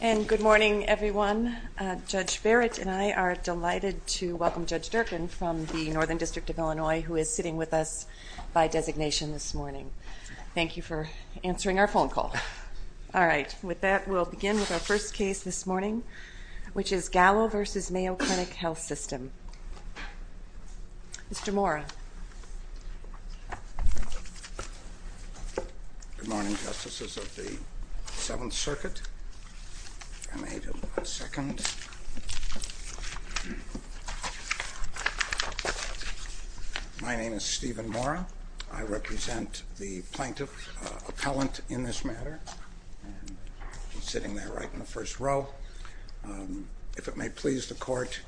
And good morning everyone. Judge Barrett and I are delighted to welcome Judge Durkin from the Northern District of Illinois who is sitting with us by designation this morning. Thank you for answering our phone call. All right with that we'll begin with our first case this morning which is Gallo v. Mayo Clinic Health System. Mr. Mora. Good morning justices of the Seventh Circuit. My name is Stephen Mora. I represent the plaintiff appellant in this matter. Sitting there right in the first row. If it may please the court,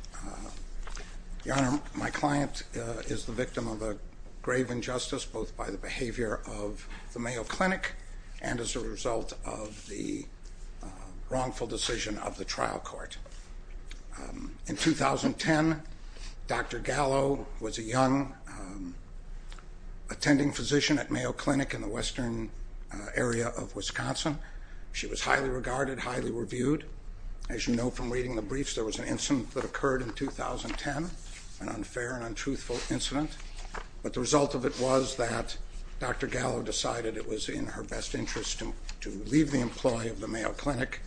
Your Honor, my client is the victim of a grave injustice both by the behavior of the Mayo Clinic and as a result of the wrongful decision of the trial court. In 2010, Dr. Gallo was a young attending physician at Mayo Clinic in the western area of Wisconsin. She was highly regarded, highly reviewed. As you know from reading the briefs there was an incident that occurred in 2010, an unfair and untruthful incident, but the result of it was that Dr. Gallo decided it was in her best interest to leave the employ of the Mayo Clinic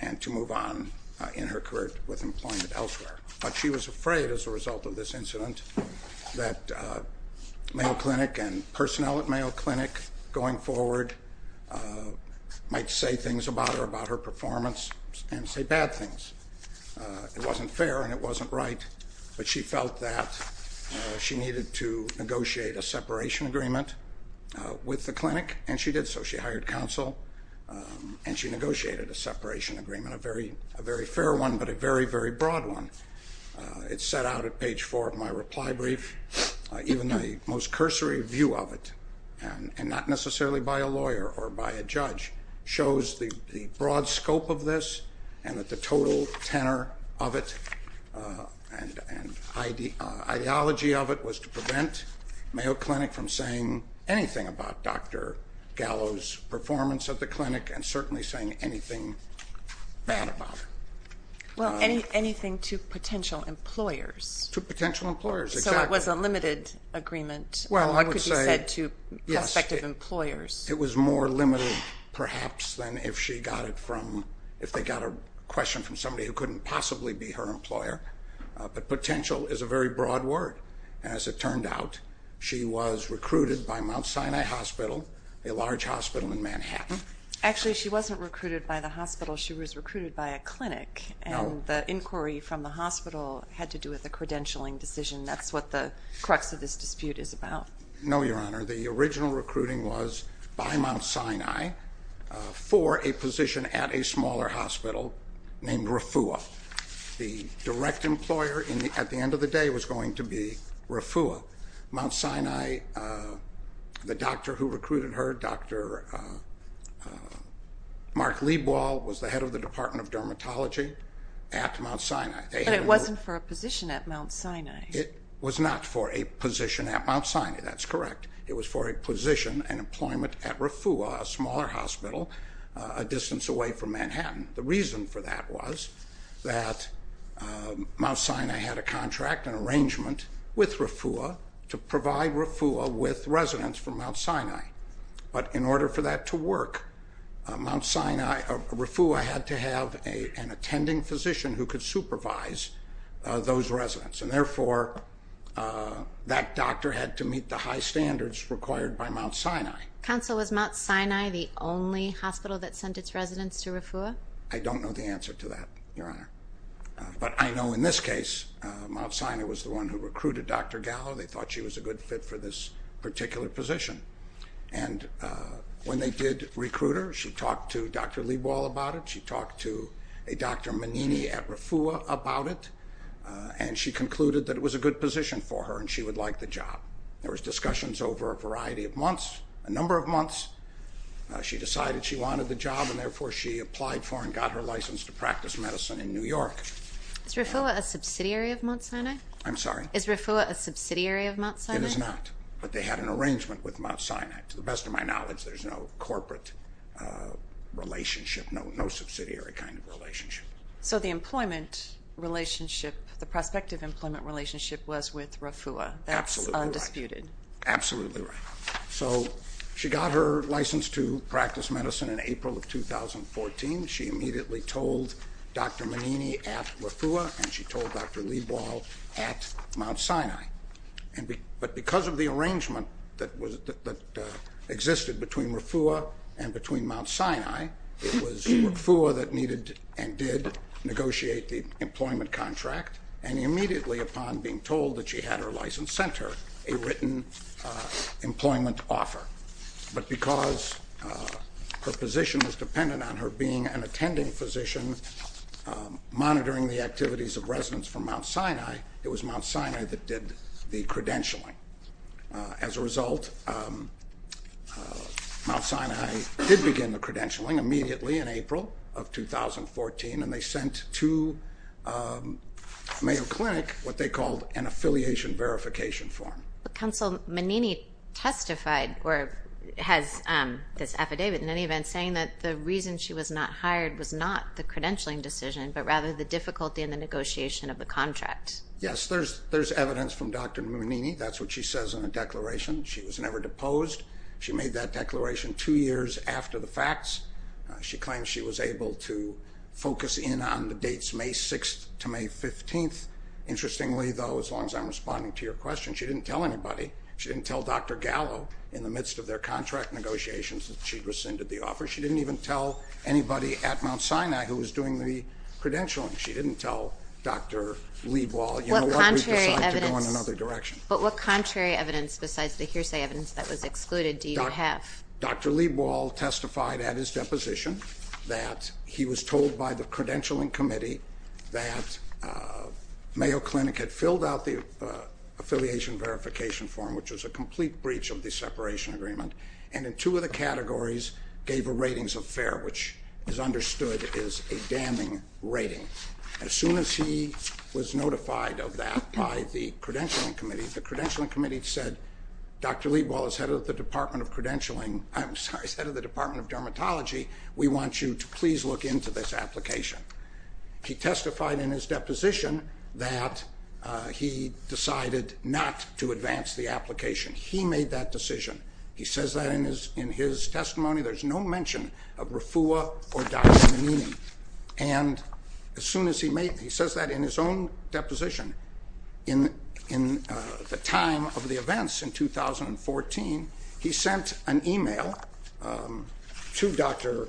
and to move on in her career with employment elsewhere. But she was afraid as a result of this that moving forward might say things about her, about her performance and say bad things. It wasn't fair and it wasn't right, but she felt that she needed to negotiate a separation agreement with the clinic and she did so. She hired counsel and she negotiated a separation agreement, a very, a very fair one, but a very, very broad one. It's set out at page four of my reply brief. Even the most cursory view of it, and not necessarily by a lawyer or by a judge, shows the broad scope of this and that the total tenor of it and ideology of it was to prevent Mayo Clinic from saying anything about Dr. Gallo's performance at the clinic and certainly saying anything bad about her. Well, anything to potential employers. To potential employers, exactly. So it was a limited agreement. It was more limited perhaps than if she got it from, if they got a question from somebody who couldn't possibly be her employer, but potential is a very broad word. As it turned out, she was recruited by Mount Sinai Hospital, a large hospital in Manhattan. Actually she wasn't recruited by the hospital, she was recruited by a clinic and the inquiry from the hospital had to do with the credentialing decision. That's what the crux of this dispute is about. No, Your Honor. The original recruiting was by Mount Sinai for a position at a smaller hospital named Refua. The direct employer at the end of the day was going to be Refua. Mount Sinai, the doctor who recruited her, Dr. Mark Lebois, was the head of the Department of Dermatology at Mount Sinai. But it wasn't for a position at Mount Sinai. It was not for a position at Mount Sinai, that's correct. It was for a position and employment at Refua, a smaller hospital a distance away from Manhattan. The reason for that was that Mount Sinai had a contract, an arrangement, with Refua to provide Refua with residents from Mount Sinai. But in order for that to work, Mount Sinai, Refua had to have an attending physician who could supervise those residents. And therefore, that doctor had to meet the high standards required by Mount Sinai. Counsel, was Mount Sinai the only hospital that sent its residents to Refua? I don't know the answer to that, Your Honor. But I know in this case, Mount Sinai was the one who recruited Dr. Gallo. They thought she was a good fit for this particular position. And when they did recruit her, she talked to Dr. Lewall about it. She talked to a Dr. Manini at Refua about it. And she concluded that it was a good position for her and she would like the job. There was discussions over a variety of months, a number of months. She decided she wanted the job and therefore she applied for and got her license to practice medicine in New York. Is Refua a subsidiary of Mount Sinai? I'm sorry? Is Refua a subsidiary of Mount Sinai? It is not. But they had an arrangement with no subsidiary kind of relationship. So the employment relationship, the prospective employment relationship, was with Refua. That's undisputed. Absolutely right. So she got her license to practice medicine in April of 2014. She immediately told Dr. Manini at Refua and she told Dr. Lewall at Mount Sinai. But because of the arrangement that existed between Refua and Mount Sinai, it was Refua that needed and did negotiate the employment contract. And immediately upon being told that she had her license, sent her a written employment offer. But because her position was dependent on her being an attending physician monitoring the activities of residents from Mount Sinai, it was Mount Sinai that did the credentialing. As a result, Mount Sinai did begin the credentialing immediately in April of 2014 and they sent to Mayo Clinic what they called an affiliation verification form. Councilman Manini testified or has this affidavit in any event saying that the reason she was not hired was not the credentialing decision but rather the difficulty in the contract? Yes, there's there's evidence from Dr. Manini. That's what she says in the declaration. She was never deposed. She made that declaration two years after the facts. She claims she was able to focus in on the dates May 6th to May 15th. Interestingly though, as long as I'm responding to your question, she didn't tell anybody. She didn't tell Dr. Gallo in the midst of their contract negotiations that she'd rescinded the offer. She didn't even tell anybody at Dr. Leibwald. But what contrary evidence besides the hearsay evidence that was excluded do you have? Dr. Leibwald testified at his deposition that he was told by the credentialing committee that Mayo Clinic had filled out the affiliation verification form, which was a complete breach of the separation agreement, and in two of the categories gave a ratings affair, which is notified of that by the credentialing committee. The credentialing committee said, Dr. Leibwald is head of the Department of Credentialing, I'm sorry, is head of the Department of Dermatology. We want you to please look into this application. He testified in his deposition that he decided not to advance the application. He made that decision. He says that in his testimony. There's no mention of deposition. In the time of the events in 2014, he sent an email to Dr.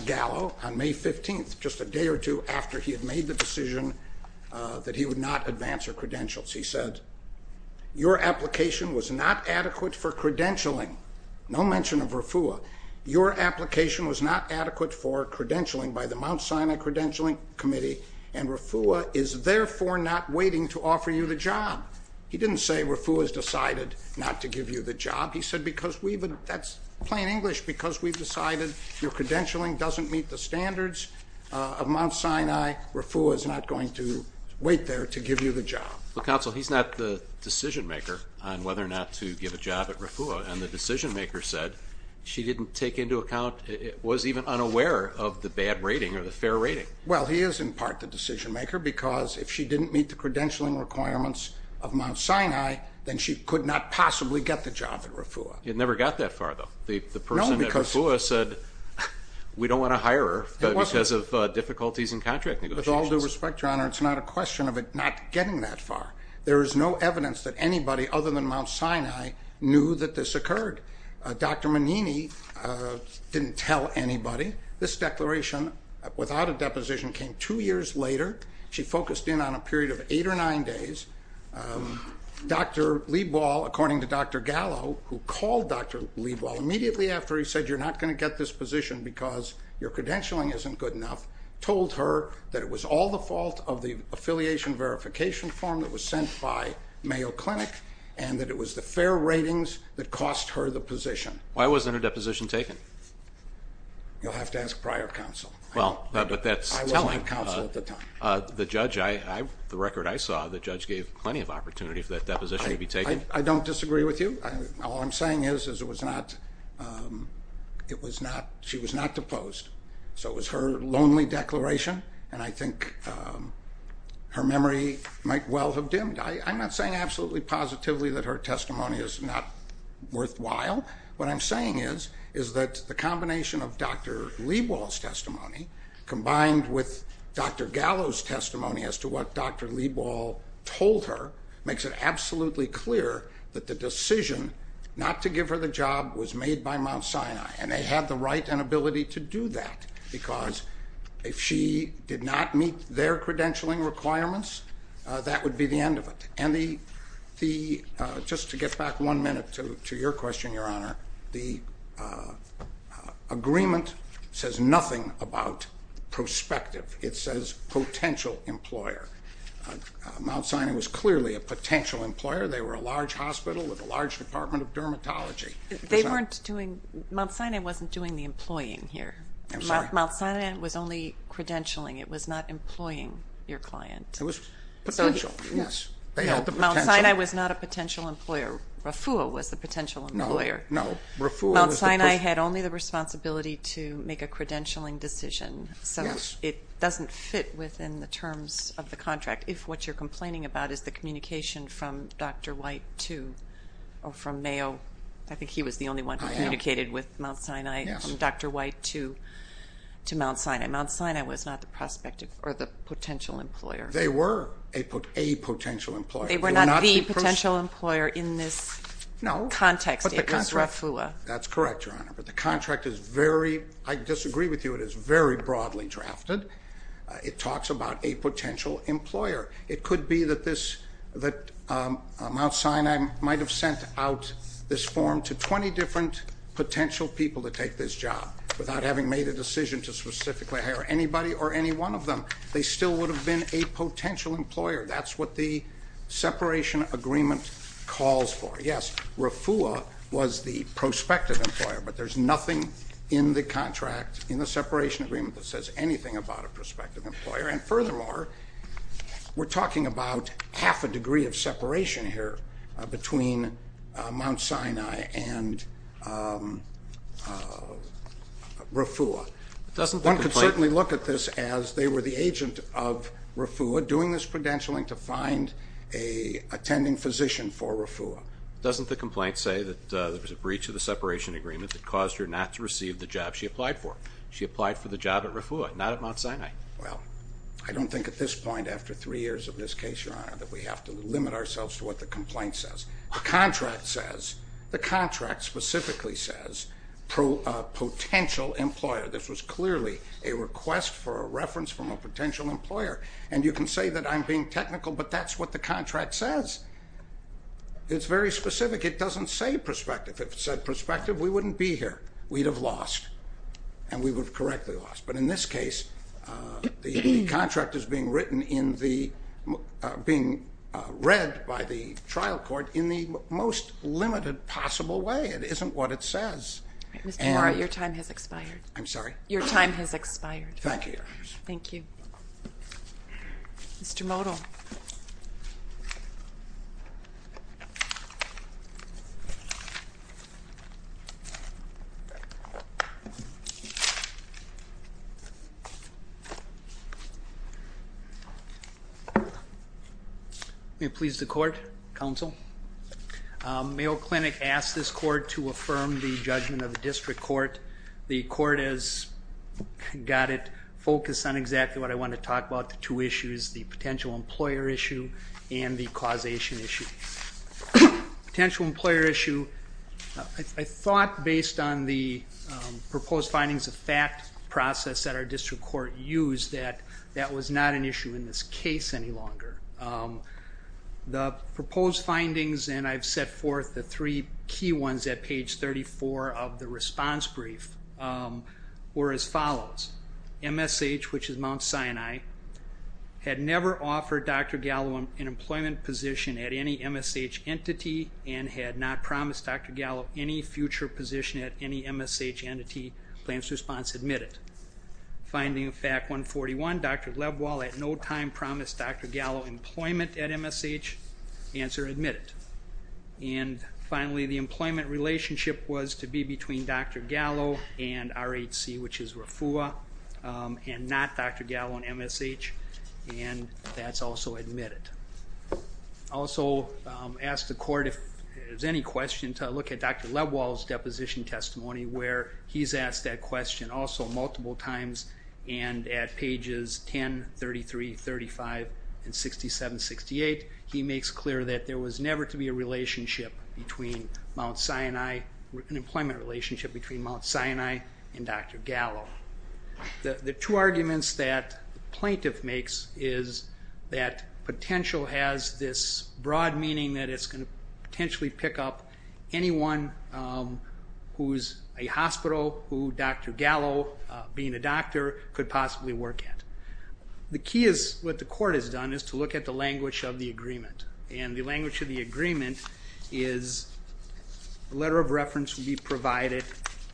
Gallo on May 15th, just a day or two after he had made the decision that he would not advance her credentials. He said, your application was not adequate for credentialing. No mention of RFUA. Your application was not adequate for the Mount Sinai Credentialing Committee, and RFUA is therefore not waiting to offer you the job. He didn't say RFUA has decided not to give you the job. He said because we've, that's plain English, because we've decided your credentialing doesn't meet the standards of Mount Sinai, RFUA is not going to wait there to give you the job. Well, Counsel, he's not the decision-maker on whether or not to give a job at RFUA, and the decision-maker said she didn't take into account, was even unaware of the bad rating or the fair rating. Well, he is in part the decision-maker, because if she didn't meet the credentialing requirements of Mount Sinai, then she could not possibly get the job at RFUA. It never got that far, though. The person at RFUA said we don't want to hire her because of difficulties in contract negotiations. With all due respect, Your Honor, it's not a question of it not getting that far. There is no evidence that anybody other than Mount Sinai knew that this occurred. Dr. Manini didn't tell anybody. This declaration, without a deposition, came two years later. She focused in on a period of eight or nine days. Dr. Leibwald, according to Dr. Gallo, who called Dr. Leibwald immediately after he said you're not going to get this position because your credentialing isn't good enough, told her that it was all the fault of the affiliation verification form that was sent by Mayo Clinic and that it was the fair ratings that cost her the position. Why wasn't a deposition taken? You'll have to ask prior counsel. Well, but that's telling. I wasn't a counsel at the time. The judge, the record I saw, the judge gave plenty of opportunity for that deposition to be taken. I don't disagree with you. All I'm saying is, is it was not, it was not, she was not deposed. So it was her lonely declaration and I think her memory might well have dimmed. I'm not saying absolutely positively that her testimony is not worthwhile. What I'm saying is, is that the combination of Dr. Leibwald's testimony combined with Dr. Gallo's testimony as to what Dr. Leibwald told her makes it absolutely clear that the decision not to give her the job was made by Mount Sinai and they had the right and ability to do that because if she did not meet their Just to get back one minute to your question, Your Honor, the agreement says nothing about prospective. It says potential employer. Mount Sinai was clearly a potential employer. They were a large hospital with a large Department of Dermatology. They weren't doing, Mount Sinai wasn't doing the employing here. Mount Sinai was only credentialing. It was not employing your client. It was potential. Yes. Mount Sinai was not a potential employer. RAFUA was the potential employer. Mount Sinai had only the responsibility to make a credentialing decision so it doesn't fit within the terms of the contract if what you're complaining about is the communication from Dr. White to, or from Mayo, I think he was the only one who communicated with Mount Sinai, Dr. White to Mount Sinai. Mount Sinai was not the prospective or the potential employer. They were a potential employer. They were not the potential employer in this context. It was RAFUA. That's correct, Your Honor, but the contract is very, I disagree with you, it is very broadly drafted. It talks about a potential employer. It could be that this, that Mount Sinai might have sent out this form to 20 different potential people to take this job without having made a decision to specifically hire anybody or any one of them. They still would have been a potential employer. That's what the separation agreement calls for. Yes, RAFUA was the prospective employer but there's nothing in the contract, in the separation agreement, that says anything about a prospective employer and furthermore, we're talking about half a degree of separation here between Mount Sinai and RAFUA. One could certainly look at this as they were the agent of RAFUA doing this credentialing to find a attending physician for RAFUA. Doesn't the complaint say that there was a breach of the separation agreement that caused her not to receive the job she applied for? She applied for the job at RAFUA, not at Mount Sinai. Well, I don't think at this point after three years of this case, Your Honor, that we have to limit ourselves to what the complaint says. The contract says, the contract specifically says potential employer. This was clearly a request for a reference from a potential employer and you can say that I'm being technical but that's what the contract says. It's very specific. It doesn't say prospective. If it said prospective, we wouldn't be here. We'd have lost and we would have correctly lost but in this case, the contract is being written in the, being read by the trial court in the most I'm sorry. Your time has expired. Thank you, Your Honor. Thank you. Mr. Modell. May it please the court, counsel. Mayo Clinic asked this court to affirm the The court has got it focused on exactly what I want to talk about, the two issues, the potential employer issue and the causation issue. Potential employer issue, I thought based on the proposed findings of fact process that our district court used that that was not an issue in this case any longer. The proposed findings and I've set forth the three key ones at page 34 of the response brief were as follows. MSH, which is Mount Sinai, had never offered Dr. Gallo an employment position at any MSH entity and had not promised Dr. Gallo any future position at any MSH entity. Plans response admitted. Finding of fact 141, Dr. Lebwal at no time promised Dr. Gallo employment at MSH. Answer admitted. And finally the employment relationship was to be between Dr. Gallo and RHC, which is RFUA and not Dr. Gallo and MSH and that's also admitted. Also asked the court if there's any question to look at Dr. Lebwal's deposition testimony where he's asked that question also multiple times and at pages 10, 33, 35 and 67, 68 he makes clear that there was never to be a relationship between Mount Sinai, an employment relationship between Mount Sinai and Dr. Gallo. The two arguments that plaintiff makes is that potential has this broad meaning that it's going to potentially pick up anyone who's a hospital who Dr. Gallo being a doctor could possibly work at. The key is what the court has done is to look at the language of the agreement and the language of the agreement is a letter of reference will be provided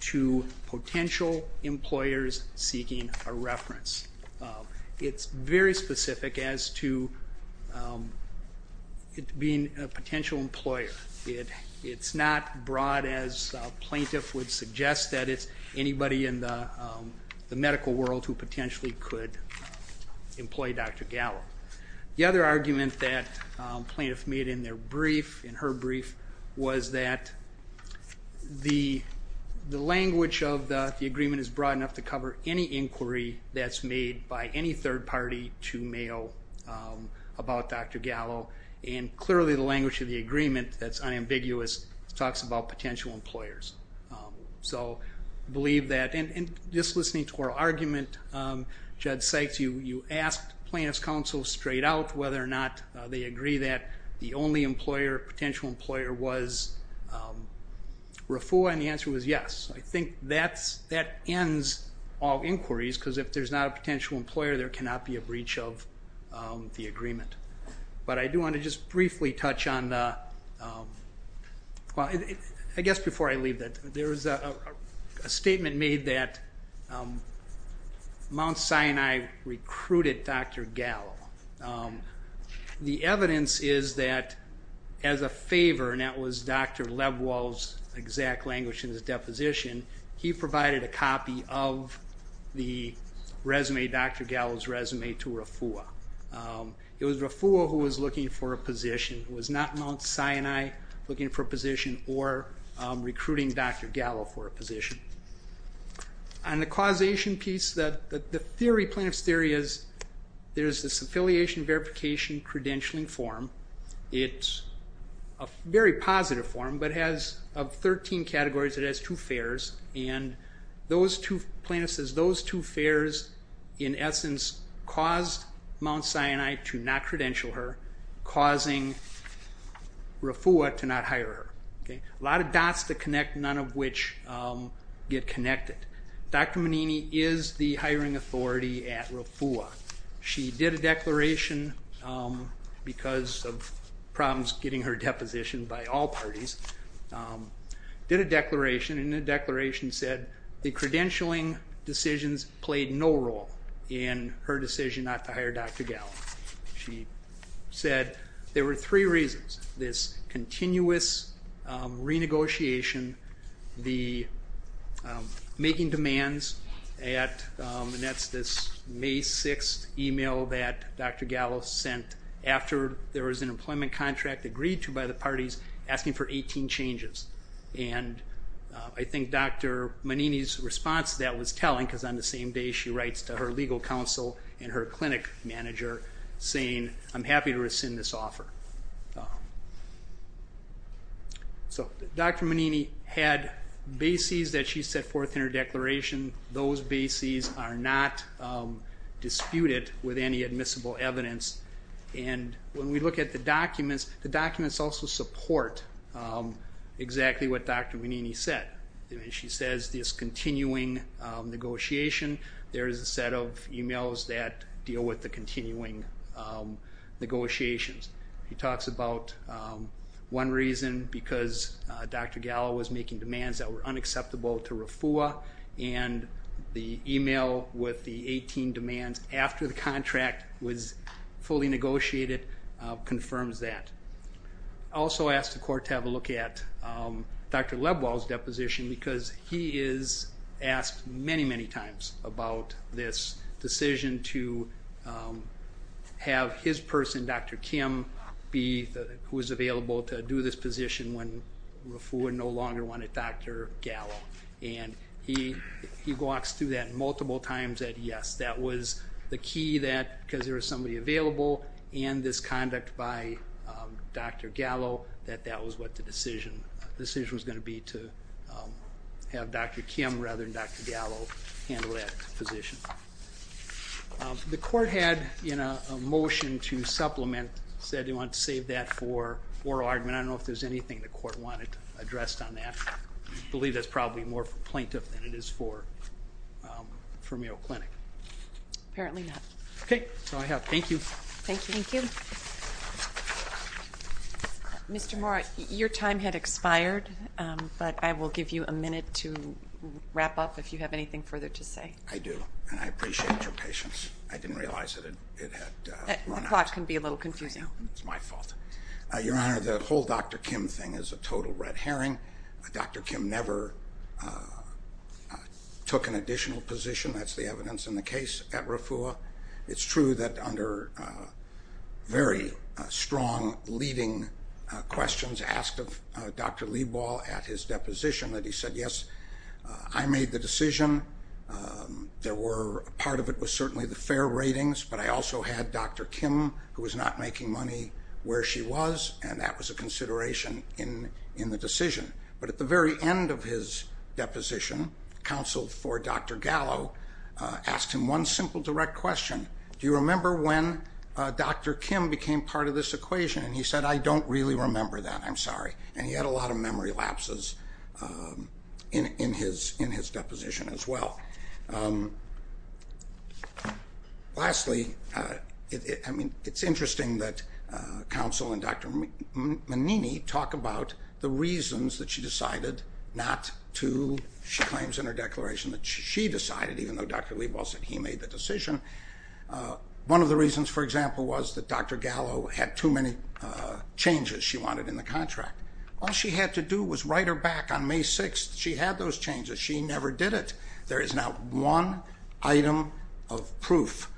to potential employers seeking a reference. It's very specific as to it being a potential employer. It's not broad as plaintiff would suggest that it's anybody in the medical world who potentially could employ Dr. Gallo. The other argument that plaintiff made in their brief, in her brief, was that the language of the agreement is broad enough to cover any inquiry that's made by any third party to Mayo about Dr. Gallo and clearly the language of the agreement that's unambiguous talks about potential employers. So I believe that and just listening to her argument, Judd Sykes, you asked plaintiff's counsel straight out whether or not they agree that the only employer, potential employer, was RAFUA and the answer was yes. I think that ends all inquiries because if there's not a potential employer there cannot be a breach of the agreement. But I do want to just briefly touch on, well I guess before I leave that, there was a statement made that Mount Sinai recruited Dr. Gallo. The evidence is that as a favor, and that was Dr. Lebwald's exact language in his deposition, he provided a copy of the resume, Dr. Gallo's resume, to RAFUA. It was RAFUA who was looking for a position, was not Mount Sinai looking for a position or recruiting Dr. Gallo for a position. On the causation piece that the theory, plaintiff's theory, is there's this affiliation verification credentialing form. It's a very positive form but has 13 categories. It has two fares and those two, plaintiff says, those two fares in essence caused Mount Sinai to not credential her, causing RAFUA to not hire her. A lot of dots to connect, none of which get connected. Dr. Manini is the hiring authority at RAFUA. She did a declaration because of problems getting her deposition by all parties. Did a declaration and the declaration said the credentialing decisions played no role in her decision not to hire Dr. Gallo. She said there were three reasons. This continuous renegotiation, the making demands at, and that's this May 6th email that Dr. Gallo sent after there was an issue by the parties asking for 18 changes. And I think Dr. Manini's response to that was telling because on the same day she writes to her legal counsel and her clinic manager saying I'm happy to rescind this offer. So Dr. Manini had bases that she set forth in her declaration. Those bases are not disputed with any admissible evidence. And when we look at the documents, the documents also support exactly what Dr. Manini said. She says this continuing negotiation, there is a set of emails that deal with the continuing negotiations. She talks about one reason because Dr. Gallo was making demands that were unacceptable to RAFUA and the email with the 18 demands after the I also asked the court to have a look at Dr. Lebwald's deposition because he is asked many, many times about this decision to have his person, Dr. Kim, be who was available to do this position when RAFUA no longer wanted Dr. Gallo. And he walks through that multiple times that yes, that was the key that there was somebody available and this conduct by Dr. Gallo that that was what the decision was going to be to have Dr. Kim rather than Dr. Gallo handle that position. The court had in a motion to supplement said they want to save that for oral argument. I don't know if there's anything the court wanted addressed on that. I believe that's probably more plaintiff than it is for Mayo Clinic. Apparently not. Okay, so I have. Thank you. Thank you. Mr. Mora, your time had expired, but I will give you a minute to wrap up if you have anything further to say. I do. And I appreciate your patience. I didn't realize that it had run out. The clock can be a little confusing. It's my fault. Your Honor, the whole Dr. Kim thing is a total red herring. Dr. Kim never took an additional position. That's the evidence in the case at RAFUA. It's true that under very strong leading questions asked of Dr. Leibol at his deposition that he said yes, I made the decision. There were part of it was certainly the fair ratings, but I also had Dr. Kim who was not making money where she was and that was a consideration in in the decision. But at the very end of his deposition, counsel for Dr. Gallo asked him one simple direct question. Do you remember when Dr. Kim became part of this equation? And he said I don't really remember that. I'm sorry. And he had a lot of memory lapses in his in his deposition as well. Lastly, I mean it's interesting that counsel and Dr. Menini talk about the she decided even though Dr. Leibol said he made the decision. One of the reasons for example was that Dr. Gallo had too many changes she wanted in the contract. All she had to do was write her back on May 6th. She had those changes. She never did it. There is now one item of proof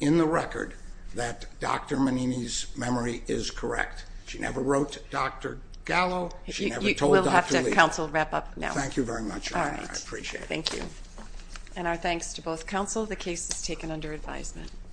in the record that Dr. Menini's memory is correct. She never wrote Dr. Gallo. She never told Dr. Leibol. We'll have to counsel wrap up now. Thank you very much. I appreciate it. Thank you. And our thanks to both counsel. The case is taken under advisement.